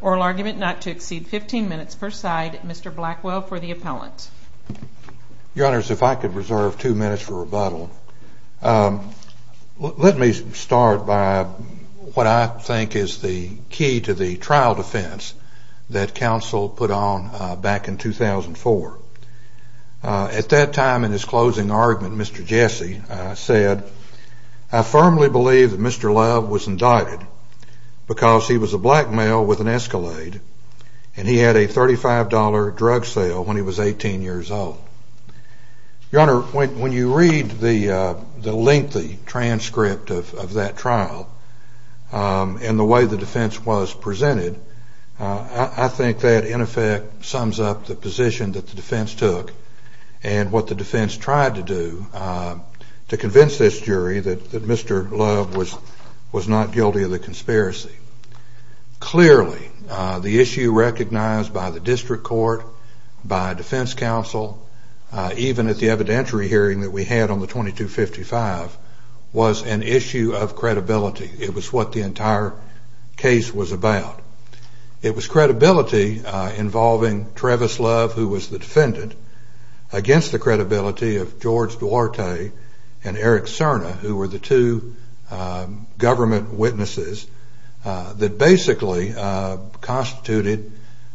Oral argument not to exceed 15 minutes per side. Mr. Blackwell for the appellant. Your Honor, if I could reserve two minutes for rebuttal. Let me start by what I think is the key to the case. The trial defense that counsel put on back in 2004. At that time in his closing argument, Mr. Jesse said, I firmly believe that Mr. Love was indicted because he was a black male with an Escalade and he had a $35 drug sale when he was 18 years old. Your Honor, when you read the lengthy transcript of that trial and the way the defense was presented, I think that in effect sums up the position that the defense took and what the defense tried to do to convince this jury that Mr. Love was not guilty of the conspiracy. Clearly, the issue recognized by the district court, by defense counsel, even at the evidentiary hearing that we had on the 2255, was an issue of credibility. It was what the entire case was about. It was credibility involving Travis Love, who was the defendant, against the credibility of George Duarte and Eric Serna, who were the two government witnesses that basically constituted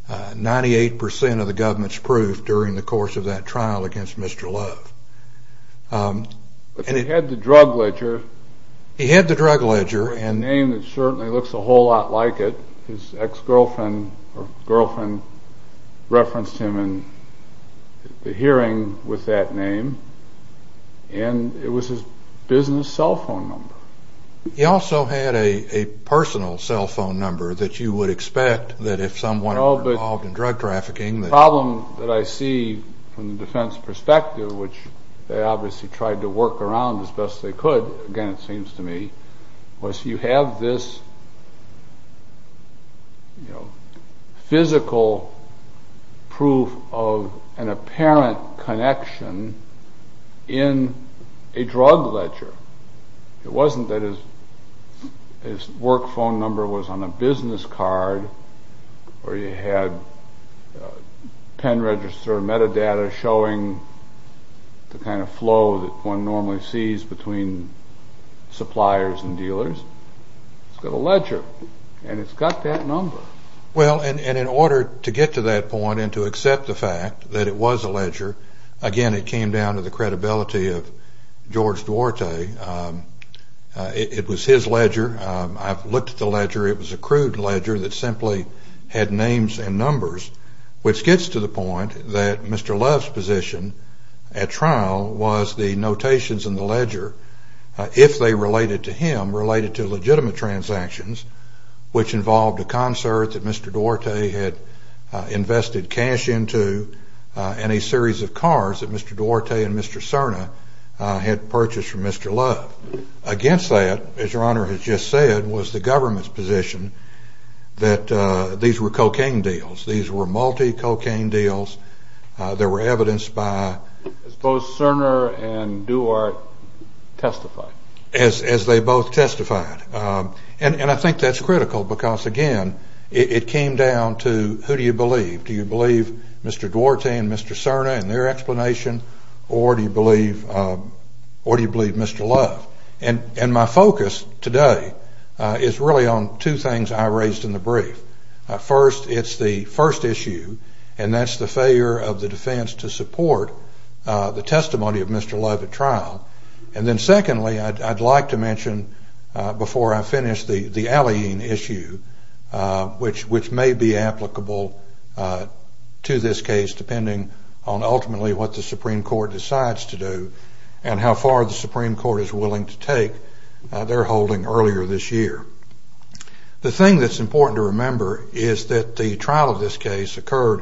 98% of the government's proof during the course of that trial against Mr. Love. But he had the drug ledger. He had the drug ledger. A name that certainly looks a whole lot like it. His ex-girlfriend referenced him in the hearing with that name and it was his business cell phone number. He also had a personal cell phone number that you would expect that if someone were involved in drug trafficking. The problem that I see from the defense perspective, which they obviously tried to work around as best they could, again it seems to me, was you have this physical proof of an apparent connection in a drug ledger. It wasn't that his work phone number was on a business card or you had pen register metadata showing the kind of flow that one normally sees between suppliers and dealers. It's got a ledger and it's got that number. Well, and in order to get to that point and to accept the fact that it was a ledger, again it came down to the credibility of George Duarte. It was his ledger. I've looked at the ledger. It was a crude ledger that simply had names and numbers, which gets to the point that Mr. Love's position at trial was the notations in the ledger, if they related to him, related to legitimate transactions, which involved a concert that Mr. Duarte had invested cash into, and a series of cars that Mr. Duarte and Mr. Cerna had purchased from Mr. Love. Against that, as your Honor has just said, was the government's position that these were cocaine deals. These were multi-cocaine deals. They were evidenced by... As both Cerna and Duarte testified. As they both testified. And I think that's critical because, again, it came down to who do you believe? Do you believe Mr. Duarte and Mr. Cerna and their explanation or do you believe Mr. Love? And my focus today is really on two things I raised in the brief. First, it's the first issue, and that's the failure of the defense to support the testimony of Mr. Love at trial. And then secondly, I'd like to mention before I finish, the Alleyne issue, which may be applicable to this case, depending on ultimately what the Supreme Court decides to do and how far the Supreme Court is willing to take their holding earlier this year. The thing that's important to remember is that the trial of this case occurred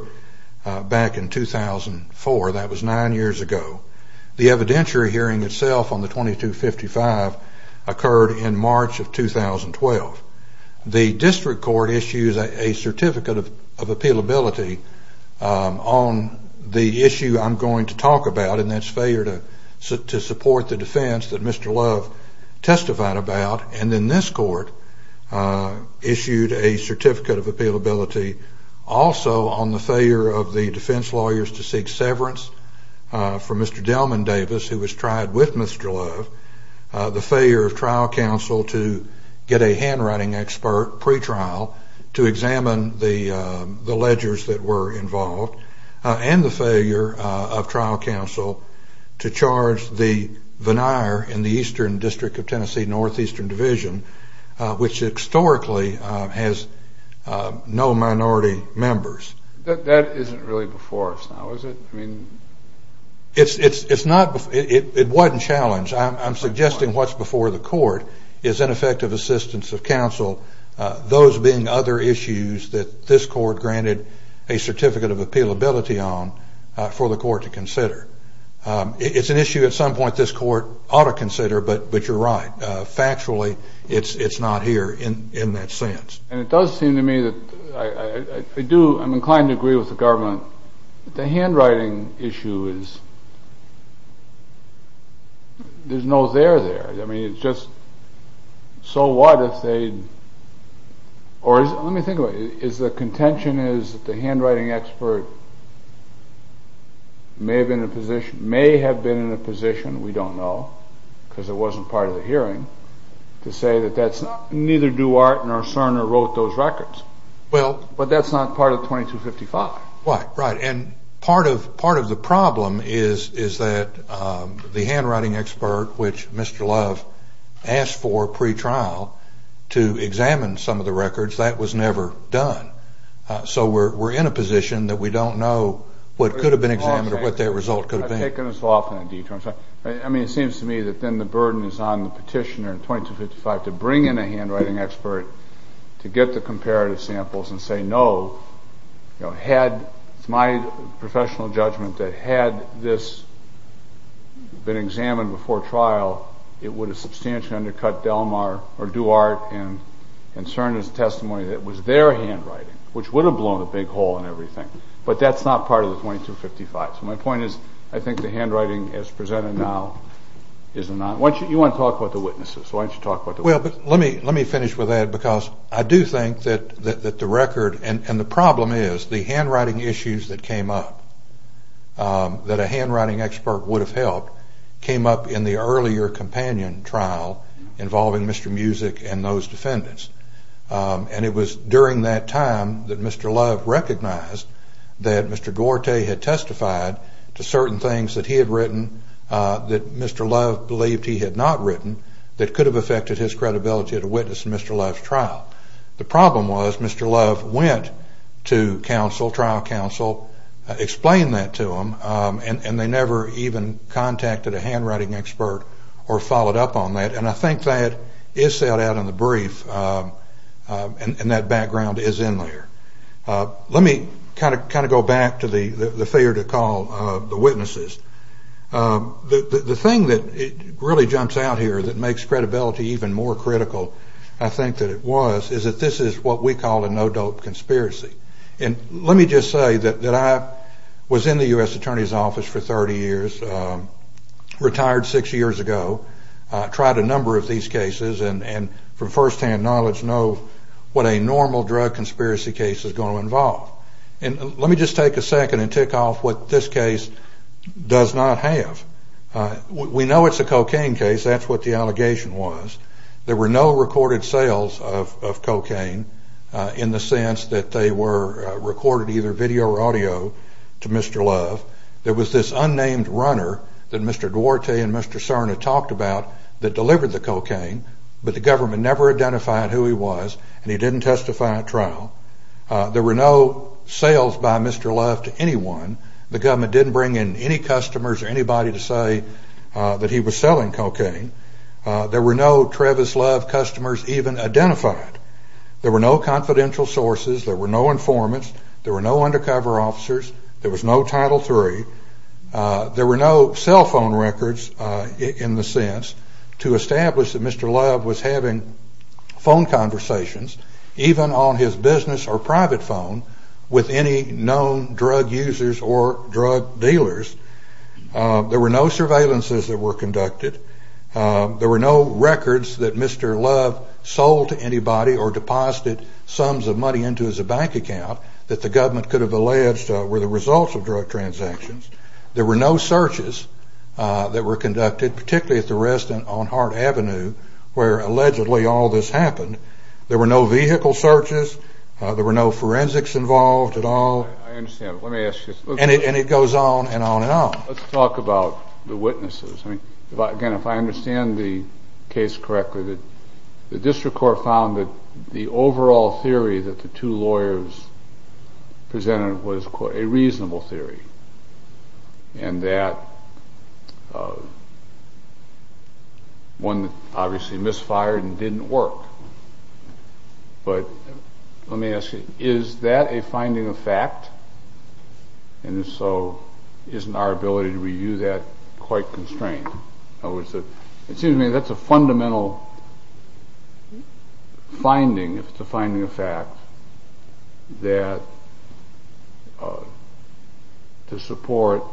back in 2004. That was nine years ago. The evidentiary hearing itself on the 2255 occurred in March of 2012. The district court issues a certificate of appealability on the issue I'm going to talk about, and that's failure to support the defense that Mr. Love testified about. And then this court issued a certificate of appealability also on the failure of the defense lawyers to seek severance from Mr. Delman Davis, who was tried with Mr. Love, the failure of trial counsel to get a handwriting expert pretrial to examine the ledgers that were involved, and the failure of trial counsel to charge the veneer in the eastern district of Tennessee, northeastern division, which historically has no minority members. That isn't really before us now, is it? It wasn't challenged. I'm suggesting what's before the court is ineffective assistance of counsel, those being other issues that this court granted a certificate of appealability on for the court to consider. It's an issue at some point this court ought to consider, but you're right. Factually, it's not here in that sense. And it does seem to me that I do, I'm inclined to agree with the government. The handwriting issue is, there's no there there. I mean, it's just, so what if they, or let me think about it, is the contention is that the handwriting expert may have been in a position, we don't know, because it wasn't part of the hearing, to say that that's neither Duart nor Cerner wrote those records, but that's not part of 2255. Right, right. And part of the problem is that the handwriting expert, which Mr. Love asked for pre-trial, to examine some of the records, that was never done. So we're in a position that we don't know what could have been examined or what that result could have been. I mean, it seems to me that then the burden is on the petitioner in 2255 to bring in a handwriting expert to get the comparative samples and say no. Had, it's my professional judgment, that had this been examined before trial, it would have substantially undercut Duart and Cerner's testimony that it was their handwriting, which would have blown a big hole in everything. But that's not part of the 2255. So my point is, I think the handwriting as presented now is not, you want to talk about the witnesses, why don't you talk about the witnesses. Well, let me finish with that because I do think that the record, and the problem is the handwriting issues that came up that a handwriting expert would have helped came up in the earlier companion trial involving Mr. Music and those defendants. And it was during that time that Mr. Love recognized that Mr. Duarte had testified to certain things that he had written that Mr. Love believed he had not written that could have affected his credibility as a witness in Mr. Love's trial. The problem was Mr. Love went to trial counsel, explained that to them, and they never even contacted a handwriting expert or followed up on that. And I think that is set out in the brief, and that background is in there. Let me kind of go back to the fear to call the witnesses. The thing that really jumps out here that makes credibility even more critical, I think that it was, is that this is what we call a no-dope conspiracy. And let me just say that I was in the U.S. Attorney's Office for 30 years, retired six years ago, tried a number of these cases and from first-hand knowledge know what a normal drug conspiracy case is going to involve. And let me just take a second and tick off what this case does not have. We know it's a cocaine case. That's what the allegation was. There were no recorded sales of cocaine in the sense that they were recorded either video or audio to Mr. Love. There was this unnamed runner that Mr. Duarte and Mr. Cerna talked about that delivered the cocaine, but the government never identified who he was and he didn't testify at trial. There were no sales by Mr. Love to anyone. The government didn't bring in any customers or anybody to say that he was selling cocaine. There were no Travis Love customers even identified. There were no confidential sources. There were no informants. There were no undercover officers. There was no Title III. There were no cell phone records in the sense to establish that Mr. Love was having phone conversations, even on his business or private phone, with any known drug users or drug dealers. There were no surveillances that were conducted. There were no records that Mr. Love sold to anybody or deposited sums of money into his bank account that the government could have alleged were the results of drug transactions. There were no searches that were conducted, particularly at the resident on Hart Avenue, where allegedly all this happened. There were no vehicle searches. There were no forensics involved at all. I understand. Let me ask you a question. And it goes on and on and on. Let's talk about the witnesses. Again, if I understand the case correctly, the district court found that the overall theory that the two lawyers presented was a reasonable theory and that one obviously misfired and didn't work. But let me ask you, is that a finding of fact? And if so, isn't our ability to review that quite constrained? In other words, it seems to me that's a fundamental finding, if it's a finding of fact, that to support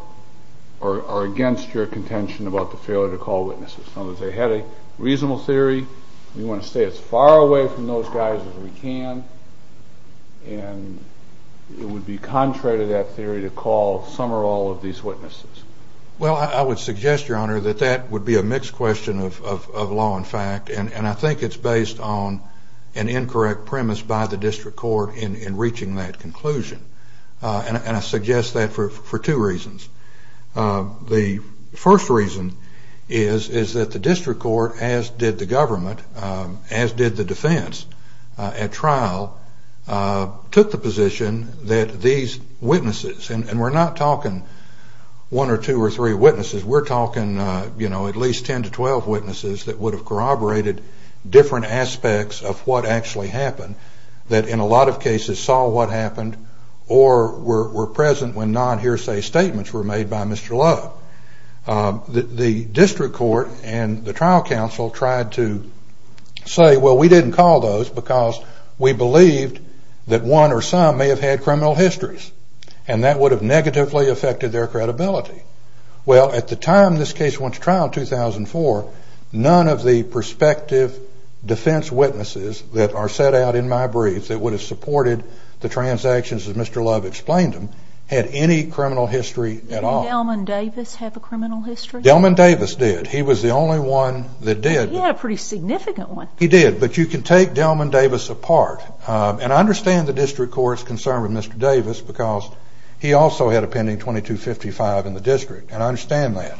or against your contention about the failure to call witnesses. In other words, they had a reasonable theory. We want to stay as far away from those guys as we can. And it would be contrary to that theory to call some or all of these witnesses. Well, I would suggest, Your Honor, that that would be a mixed question of law and fact. And I think it's based on an incorrect premise by the district court in reaching that conclusion. And I suggest that for two reasons. The first reason is that the district court, as did the government, as did the defense at trial, took the position that these witnesses, and we're not talking one or two or three witnesses, we're talking at least 10 to 12 witnesses that would have corroborated different aspects of what actually happened, that in a lot of cases saw what happened or were present when non-hearsay statements were made by Mr. Love. The district court and the trial counsel tried to say, well, we didn't call those because we believed that one or some may have had criminal histories, and that would have negatively affected their credibility. Well, at the time this case went to trial in 2004, none of the prospective defense witnesses that are set out in my briefs that would have supported the transactions that Mr. Love explained to them had any criminal history at all. Did Delman Davis have a criminal history? Delman Davis did. He was the only one that did. He had a pretty significant one. He did. But you can take Delman Davis apart. And I understand the district court's concern with Mr. Davis because he also had a pending 2255 in the district, and I understand that.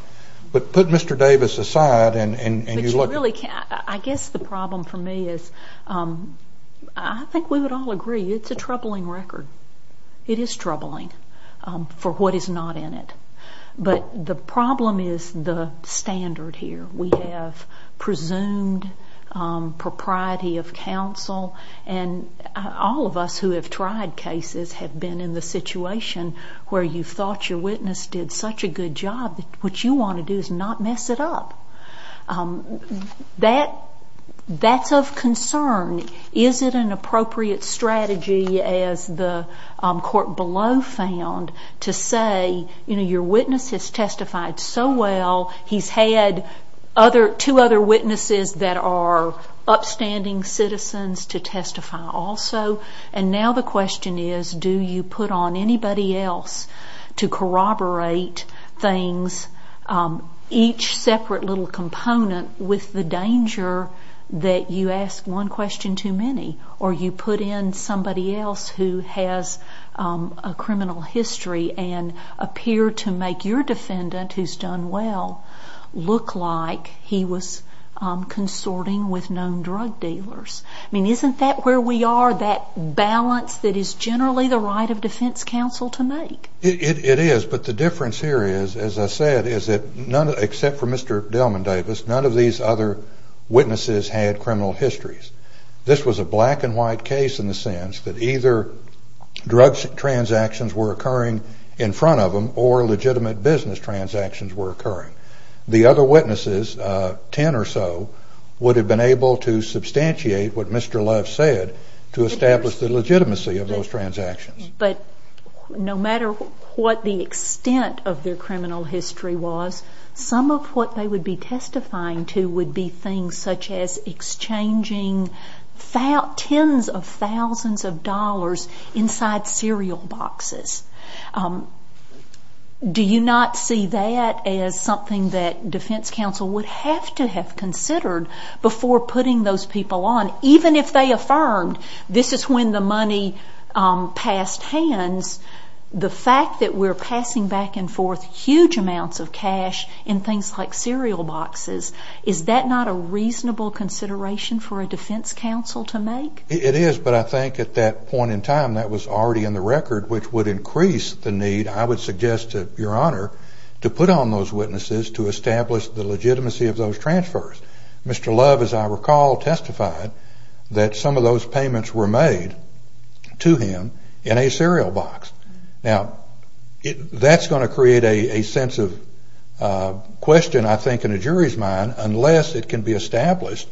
But put Mr. Davis aside and you look at it. But you really can't. I guess the problem for me is I think we would all agree it's a troubling record. It is troubling for what is not in it. But the problem is the standard here. We have presumed propriety of counsel, and all of us who have tried cases have been in the situation where you thought your witness did such a good job that what you want to do is not mess it up. That's of concern. Is it an appropriate strategy, as the court below found, to say, you know, your witness has testified so well. He's had two other witnesses that are upstanding citizens to testify also. And now the question is, do you put on anybody else to corroborate things, each separate little component with the danger that you ask one question too many or you put in somebody else who has a criminal history and appear to make your defendant, who's done well, look like he was consorting with known drug dealers? I mean, isn't that where we are, that balance that is generally the right of defense counsel to make? It is. But the difference here is, as I said, is that none, except for Mr. Delman Davis, none of these other witnesses had criminal histories. This was a black and white case in the sense that either drugs transactions were occurring in front of them or legitimate business transactions were occurring. The other witnesses, 10 or so, would have been able to substantiate what Mr. Love said to establish the legitimacy of those transactions. But no matter what the extent of their criminal history was, some of what they would be testifying to would be things such as exchanging tens of thousands of dollars inside cereal boxes. Do you not see that as something that defense counsel would have to have considered before putting those people on? Even if they affirmed this is when the money passed hands, the fact that we're passing back and forth huge amounts of cash in things like cereal boxes, is that not a reasonable consideration for a defense counsel to make? It is. But I think at that point in time, that was already in the record, which would increase the need, I would suggest to Your Honor, to put on those witnesses to establish the legitimacy of those transfers. Mr. Love, as I recall, testified that some of those payments were made to him in a cereal box. Now, that's going to create a sense of question, I think, in a jury's mind, unless it can be established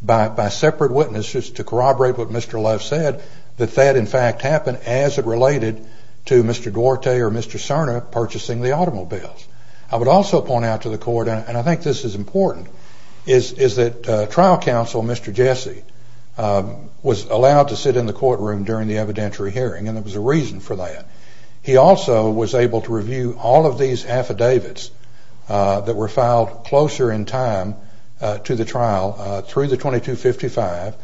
by separate witnesses to corroborate what Mr. Love said, that that, in fact, happened as it related to Mr. Duarte or Mr. Cerna purchasing the automobiles. I would also point out to the court, and I think this is important, is that trial counsel, Mr. Jesse, was allowed to sit in the courtroom during the evidentiary hearing, and there was a reason for that. He also was able to review all of these affidavits that were filed closer in time to the trial, through the 2255,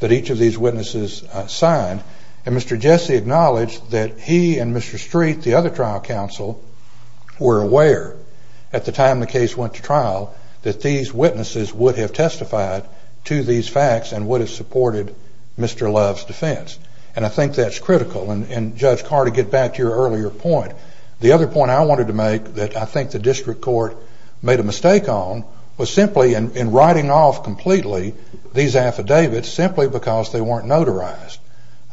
that each of these witnesses signed, and Mr. Jesse acknowledged that he and Mr. Street, the other trial counsel, were aware at the time the case went to trial that these witnesses would have testified to these facts and would have supported Mr. Love's defense, and I think that's critical. And, Judge Carter, to get back to your earlier point, the other point I wanted to make that I think the district court made a mistake on was simply in writing off completely these affidavits simply because they weren't notarized.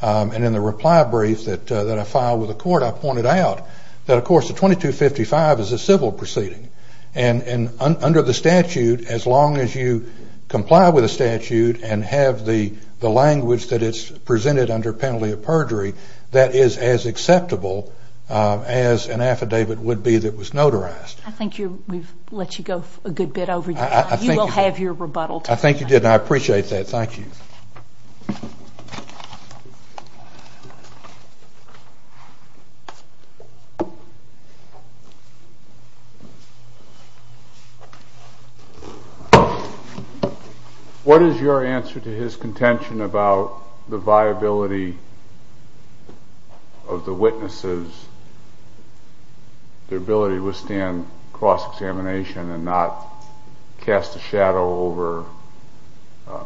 And in the reply brief that I filed with the court, I pointed out that, of course, the 2255 is a civil proceeding, and under the statute, as long as you comply with the statute and have the language that is presented under penalty of perjury, that is as acceptable as an affidavit would be that was notarized. I think we've let you go a good bit over your time. You will have your rebuttal time. I think you did, and I appreciate that. Thank you. Thank you. What is your answer to his contention about the viability of the witnesses, their ability to withstand cross-examination and not cast a shadow over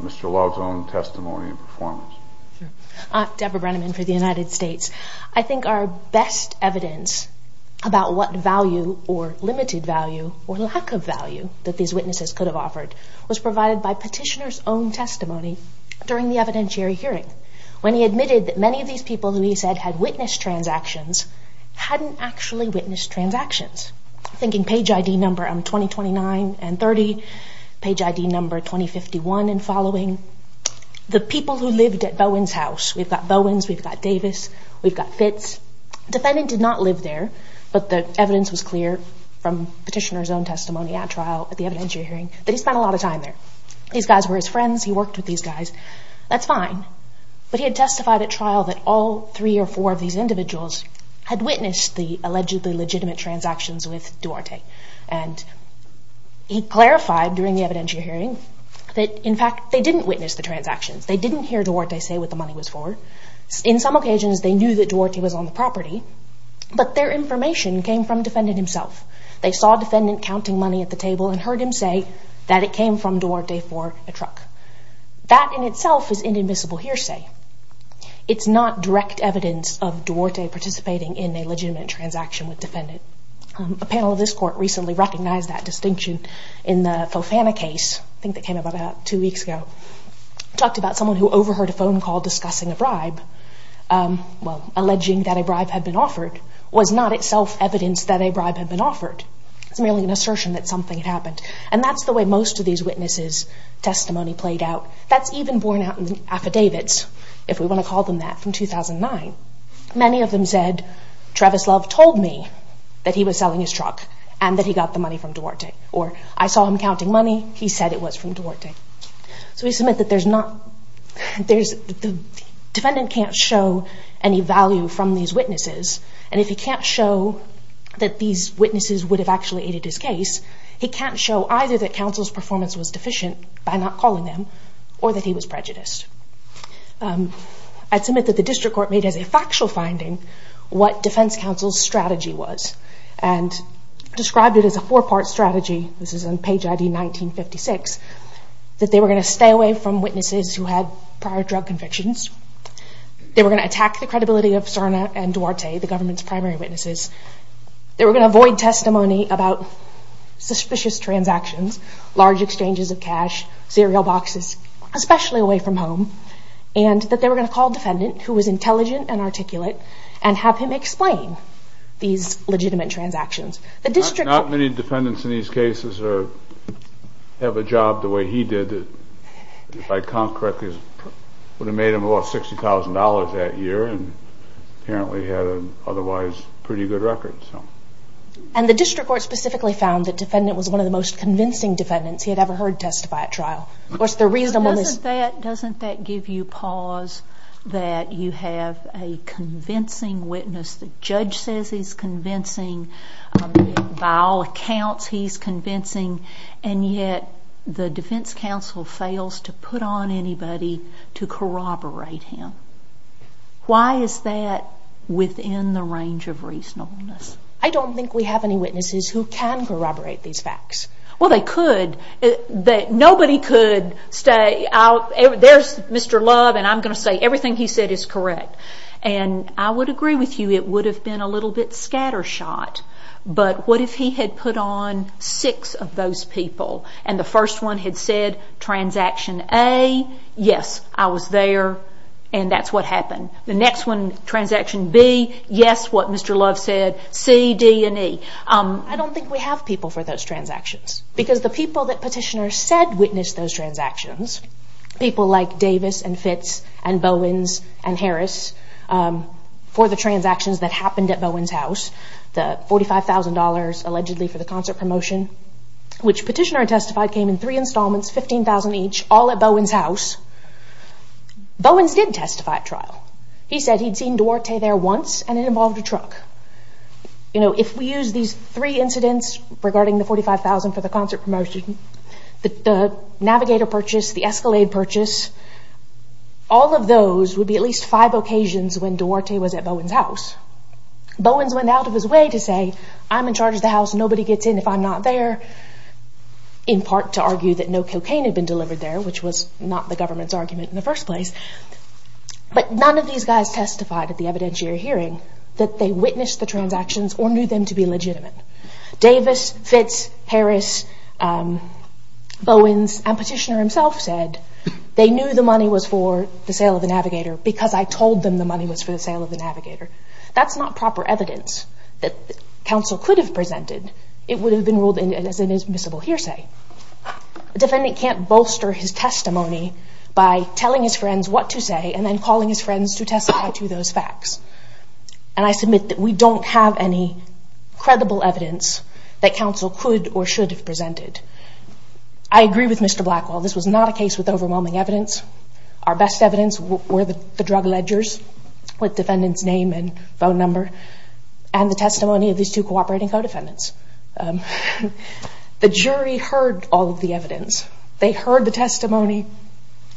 Mr. Love's own testimony and performance? Deborah Brenneman for the United States. I think our best evidence about what value or limited value or lack of value that these witnesses could have offered was provided by petitioner's own testimony during the evidentiary hearing. When he admitted that many of these people who he said had witnessed transactions hadn't actually witnessed transactions. Thinking page ID number 2029 and 30, page ID number 2051 and following. The people who lived at Bowen's house, we've got Bowen's, we've got Davis, we've got Fitz. Defendant did not live there, but the evidence was clear from petitioner's own testimony at trial, at the evidentiary hearing, that he spent a lot of time there. These guys were his friends. He worked with these guys. That's fine, but he had testified at trial that all three or four of these individuals had witnessed the allegedly legitimate transactions with Duarte. And he clarified during the evidentiary hearing that, in fact, they didn't witness the transactions. They didn't hear Duarte say what the money was for. In some occasions, they knew that Duarte was on the property, but their information came from defendant himself. They saw defendant counting money at the table and heard him say that it came from Duarte for a truck. That, in itself, is inadmissible hearsay. It's not direct evidence of Duarte participating in a legitimate transaction with defendant. A panel of this court recently recognized that distinction in the Fofana case. I think that came out about two weeks ago. It talked about someone who overheard a phone call discussing a bribe. Well, alleging that a bribe had been offered was not itself evidence that a bribe had been offered. It's merely an assertion that something had happened. And that's the way most of these witnesses' testimony played out. That's even borne out in the affidavits, if we want to call them that, from 2009. Many of them said, Travis Love told me that he was selling his truck and that he got the money from Duarte. Or, I saw him counting money. He said it was from Duarte. So we submit that there's not—the defendant can't show any value from these witnesses. And if he can't show that these witnesses would have actually aided his case, he can't show either that counsel's performance was deficient by not calling them or that he was prejudiced. I'd submit that the district court made as a factual finding what defense counsel's strategy was and described it as a four-part strategy. This is on page ID 1956, that they were going to stay away from witnesses who had prior drug convictions. They were going to attack the credibility of Sarna and Duarte, the government's primary witnesses. They were going to avoid testimony about suspicious transactions, large exchanges of cash, cereal boxes, especially away from home. And that they were going to call a defendant who was intelligent and articulate and have him explain these legitimate transactions. The district court— Not many defendants in these cases have a job the way he did. If I count correctly, it would have made him about $60,000 that year and apparently had an otherwise pretty good record. And the district court specifically found that defendant was one of the most convincing defendants he had ever heard testify at trial. Doesn't that give you pause that you have a convincing witness, the judge says he's convincing, by all accounts he's convincing, and yet the defense counsel fails to put on anybody to corroborate him? Why is that within the range of reasonableness? I don't think we have any witnesses who can corroborate these facts. Well, they could. Nobody could say, there's Mr. Love and I'm going to say everything he said is correct. And I would agree with you, it would have been a little bit scattershot. But what if he had put on six of those people and the first one had said, transaction A, yes, I was there, and that's what happened. The next one, transaction B, yes, what Mr. Love said, C, D, and E. I don't think we have people for those transactions. Because the people that petitioners said witnessed those transactions, people like Davis and Fitz and Bowens and Harris, for the transactions that happened at Bowens' house, the $45,000 allegedly for the concert promotion, which petitioner had testified came in three installments, 15,000 each, all at Bowens' house. Bowens did testify at trial. He said he'd seen Duarte there once and it involved a truck. If we use these three incidents regarding the $45,000 for the concert promotion, the Navigator purchase, the Escalade purchase, all of those would be at least five occasions when Duarte was at Bowens' house. Bowens went out of his way to say, I'm in charge of the house, nobody gets in if I'm not there, in part to argue that no cocaine had been delivered there, which was not the government's argument in the first place. But none of these guys testified at the evidentiary hearing that they witnessed the transactions or knew them to be legitimate. Davis, Fitz, Harris, Bowens, and petitioner himself said, they knew the money was for the sale of the Navigator That's not proper evidence that counsel could have presented. It would have been ruled as an admissible hearsay. A defendant can't bolster his testimony by telling his friends what to say and then calling his friends to testify to those facts. And I submit that we don't have any credible evidence that counsel could or should have presented. I agree with Mr. Blackwell, this was not a case with overwhelming evidence. Our best evidence were the drug ledgers with defendant's name and phone number and the testimony of these two cooperating co-defendants. The jury heard all of the evidence. They heard the testimony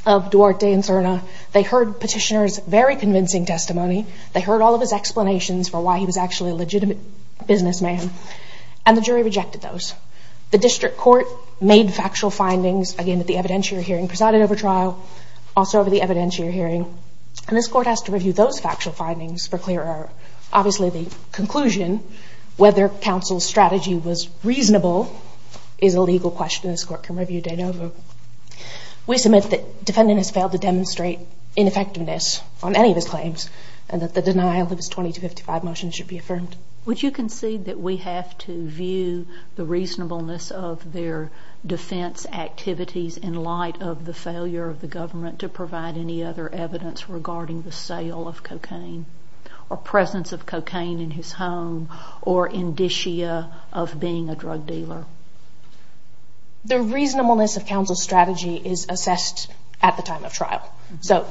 of Duarte and Cerna. They heard petitioner's very convincing testimony. They heard all of his explanations for why he was actually a legitimate businessman. And the jury rejected those. The district court made factual findings, again at the evidentiary hearing, and presided over trial, also over the evidentiary hearing. And this court has to review those factual findings for clearer. Obviously the conclusion, whether counsel's strategy was reasonable, is a legal question this court can review date over. We submit that defendant has failed to demonstrate ineffectiveness on any of his claims and that the denial of his 2255 motion should be affirmed. Would you concede that we have to view the reasonableness of their defense activities in light of the failure of the government to provide any other evidence regarding the sale of cocaine or presence of cocaine in his home or indicia of being a drug dealer? The reasonableness of counsel's strategy is assessed at the time of trial. So,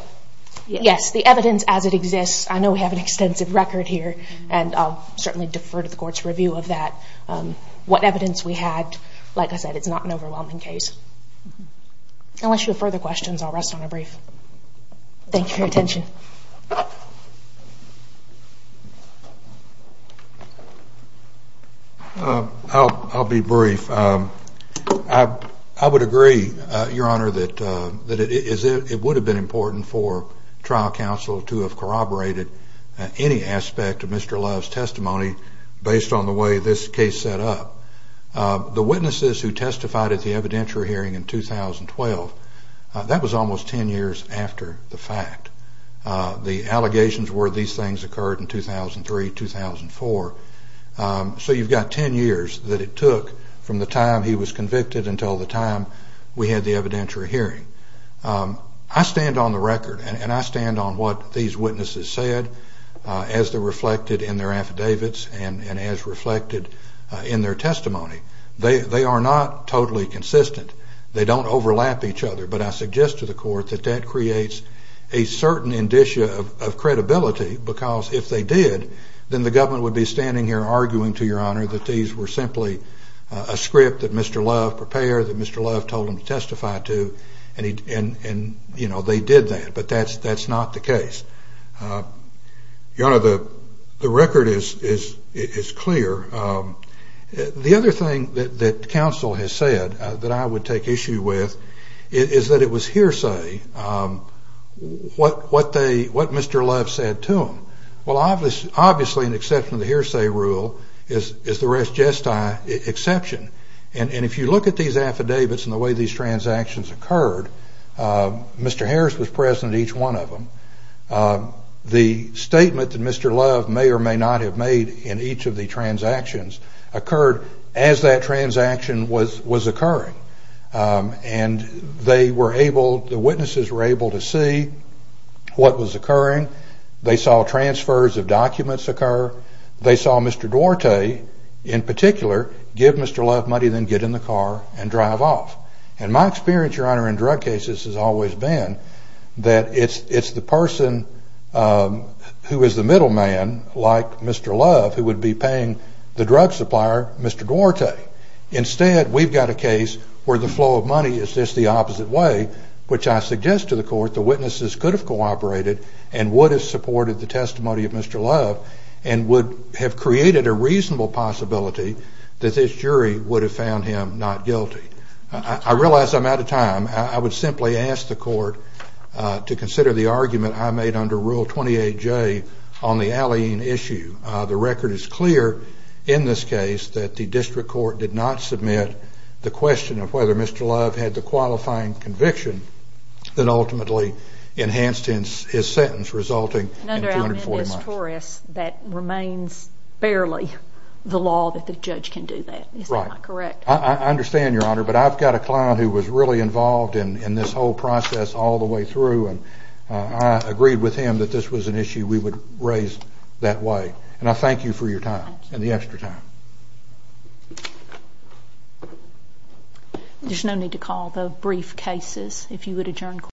yes, the evidence as it exists, I know we have an extensive record here, and I'll certainly defer to the court's review of that. What evidence we had, like I said, it's not an overwhelming case. Unless you have further questions, I'll rest on a brief. Thank you for your attention. I'll be brief. I would agree, Your Honor, that it would have been important for trial counsel to have corroborated any aspect of Mr. Love's testimony based on the way this case set up. The witnesses who testified at the evidentiary hearing in 2012, that was almost 10 years after the fact. The allegations were these things occurred in 2003, 2004. So you've got 10 years that it took from the time he was convicted until the time we had the evidentiary hearing. I stand on the record and I stand on what these witnesses said as they're reflected in their affidavits and as reflected in their testimony. They are not totally consistent. They don't overlap each other. But I suggest to the court that that creates a certain indicia of credibility because if they did, then the government would be standing here arguing to Your Honor that these were simply a script that Mr. Love prepared, that Mr. Love told him to testify to, and, you know, they did that. But that's not the case. Your Honor, the record is clear. The other thing that counsel has said that I would take issue with is that it was hearsay what Mr. Love said to him. Well, obviously an exception to the hearsay rule is the res gestae exception. And if you look at these affidavits and the way these transactions occurred, Mr. Harris was present in each one of them. The statement that Mr. Love may or may not have made in each of the transactions occurred as that transaction was occurring. And they were able, the witnesses were able to see what was occurring. They saw transfers of documents occur. They saw Mr. Duarte, in particular, give Mr. Love money, then get in the car and drive off. And my experience, Your Honor, in drug cases has always been that it's the person who is the middle man, like Mr. Love, who would be paying the drug supplier, Mr. Duarte. Instead, we've got a case where the flow of money is just the opposite way, which I suggest to the court the witnesses could have cooperated and would have supported the testimony of Mr. Love and would have created a reasonable possibility that this jury would have found him not guilty. I realize I'm out of time. I would simply ask the court to consider the argument I made under Rule 28J on the allying issue. The record is clear in this case that the district court did not submit the question of whether Mr. Love had the qualifying conviction that ultimately enhanced his sentence, resulting in 240 months. Under Almendiz-Torres, that remains barely the law that the judge can do that. Right. Is that not correct? I understand, Your Honor, but I've got a client who was really involved in this whole process all the way through, and I agreed with him that this was an issue we would raise that way. And I thank you for your time and the extra time. Thank you. There's no need to call the brief cases.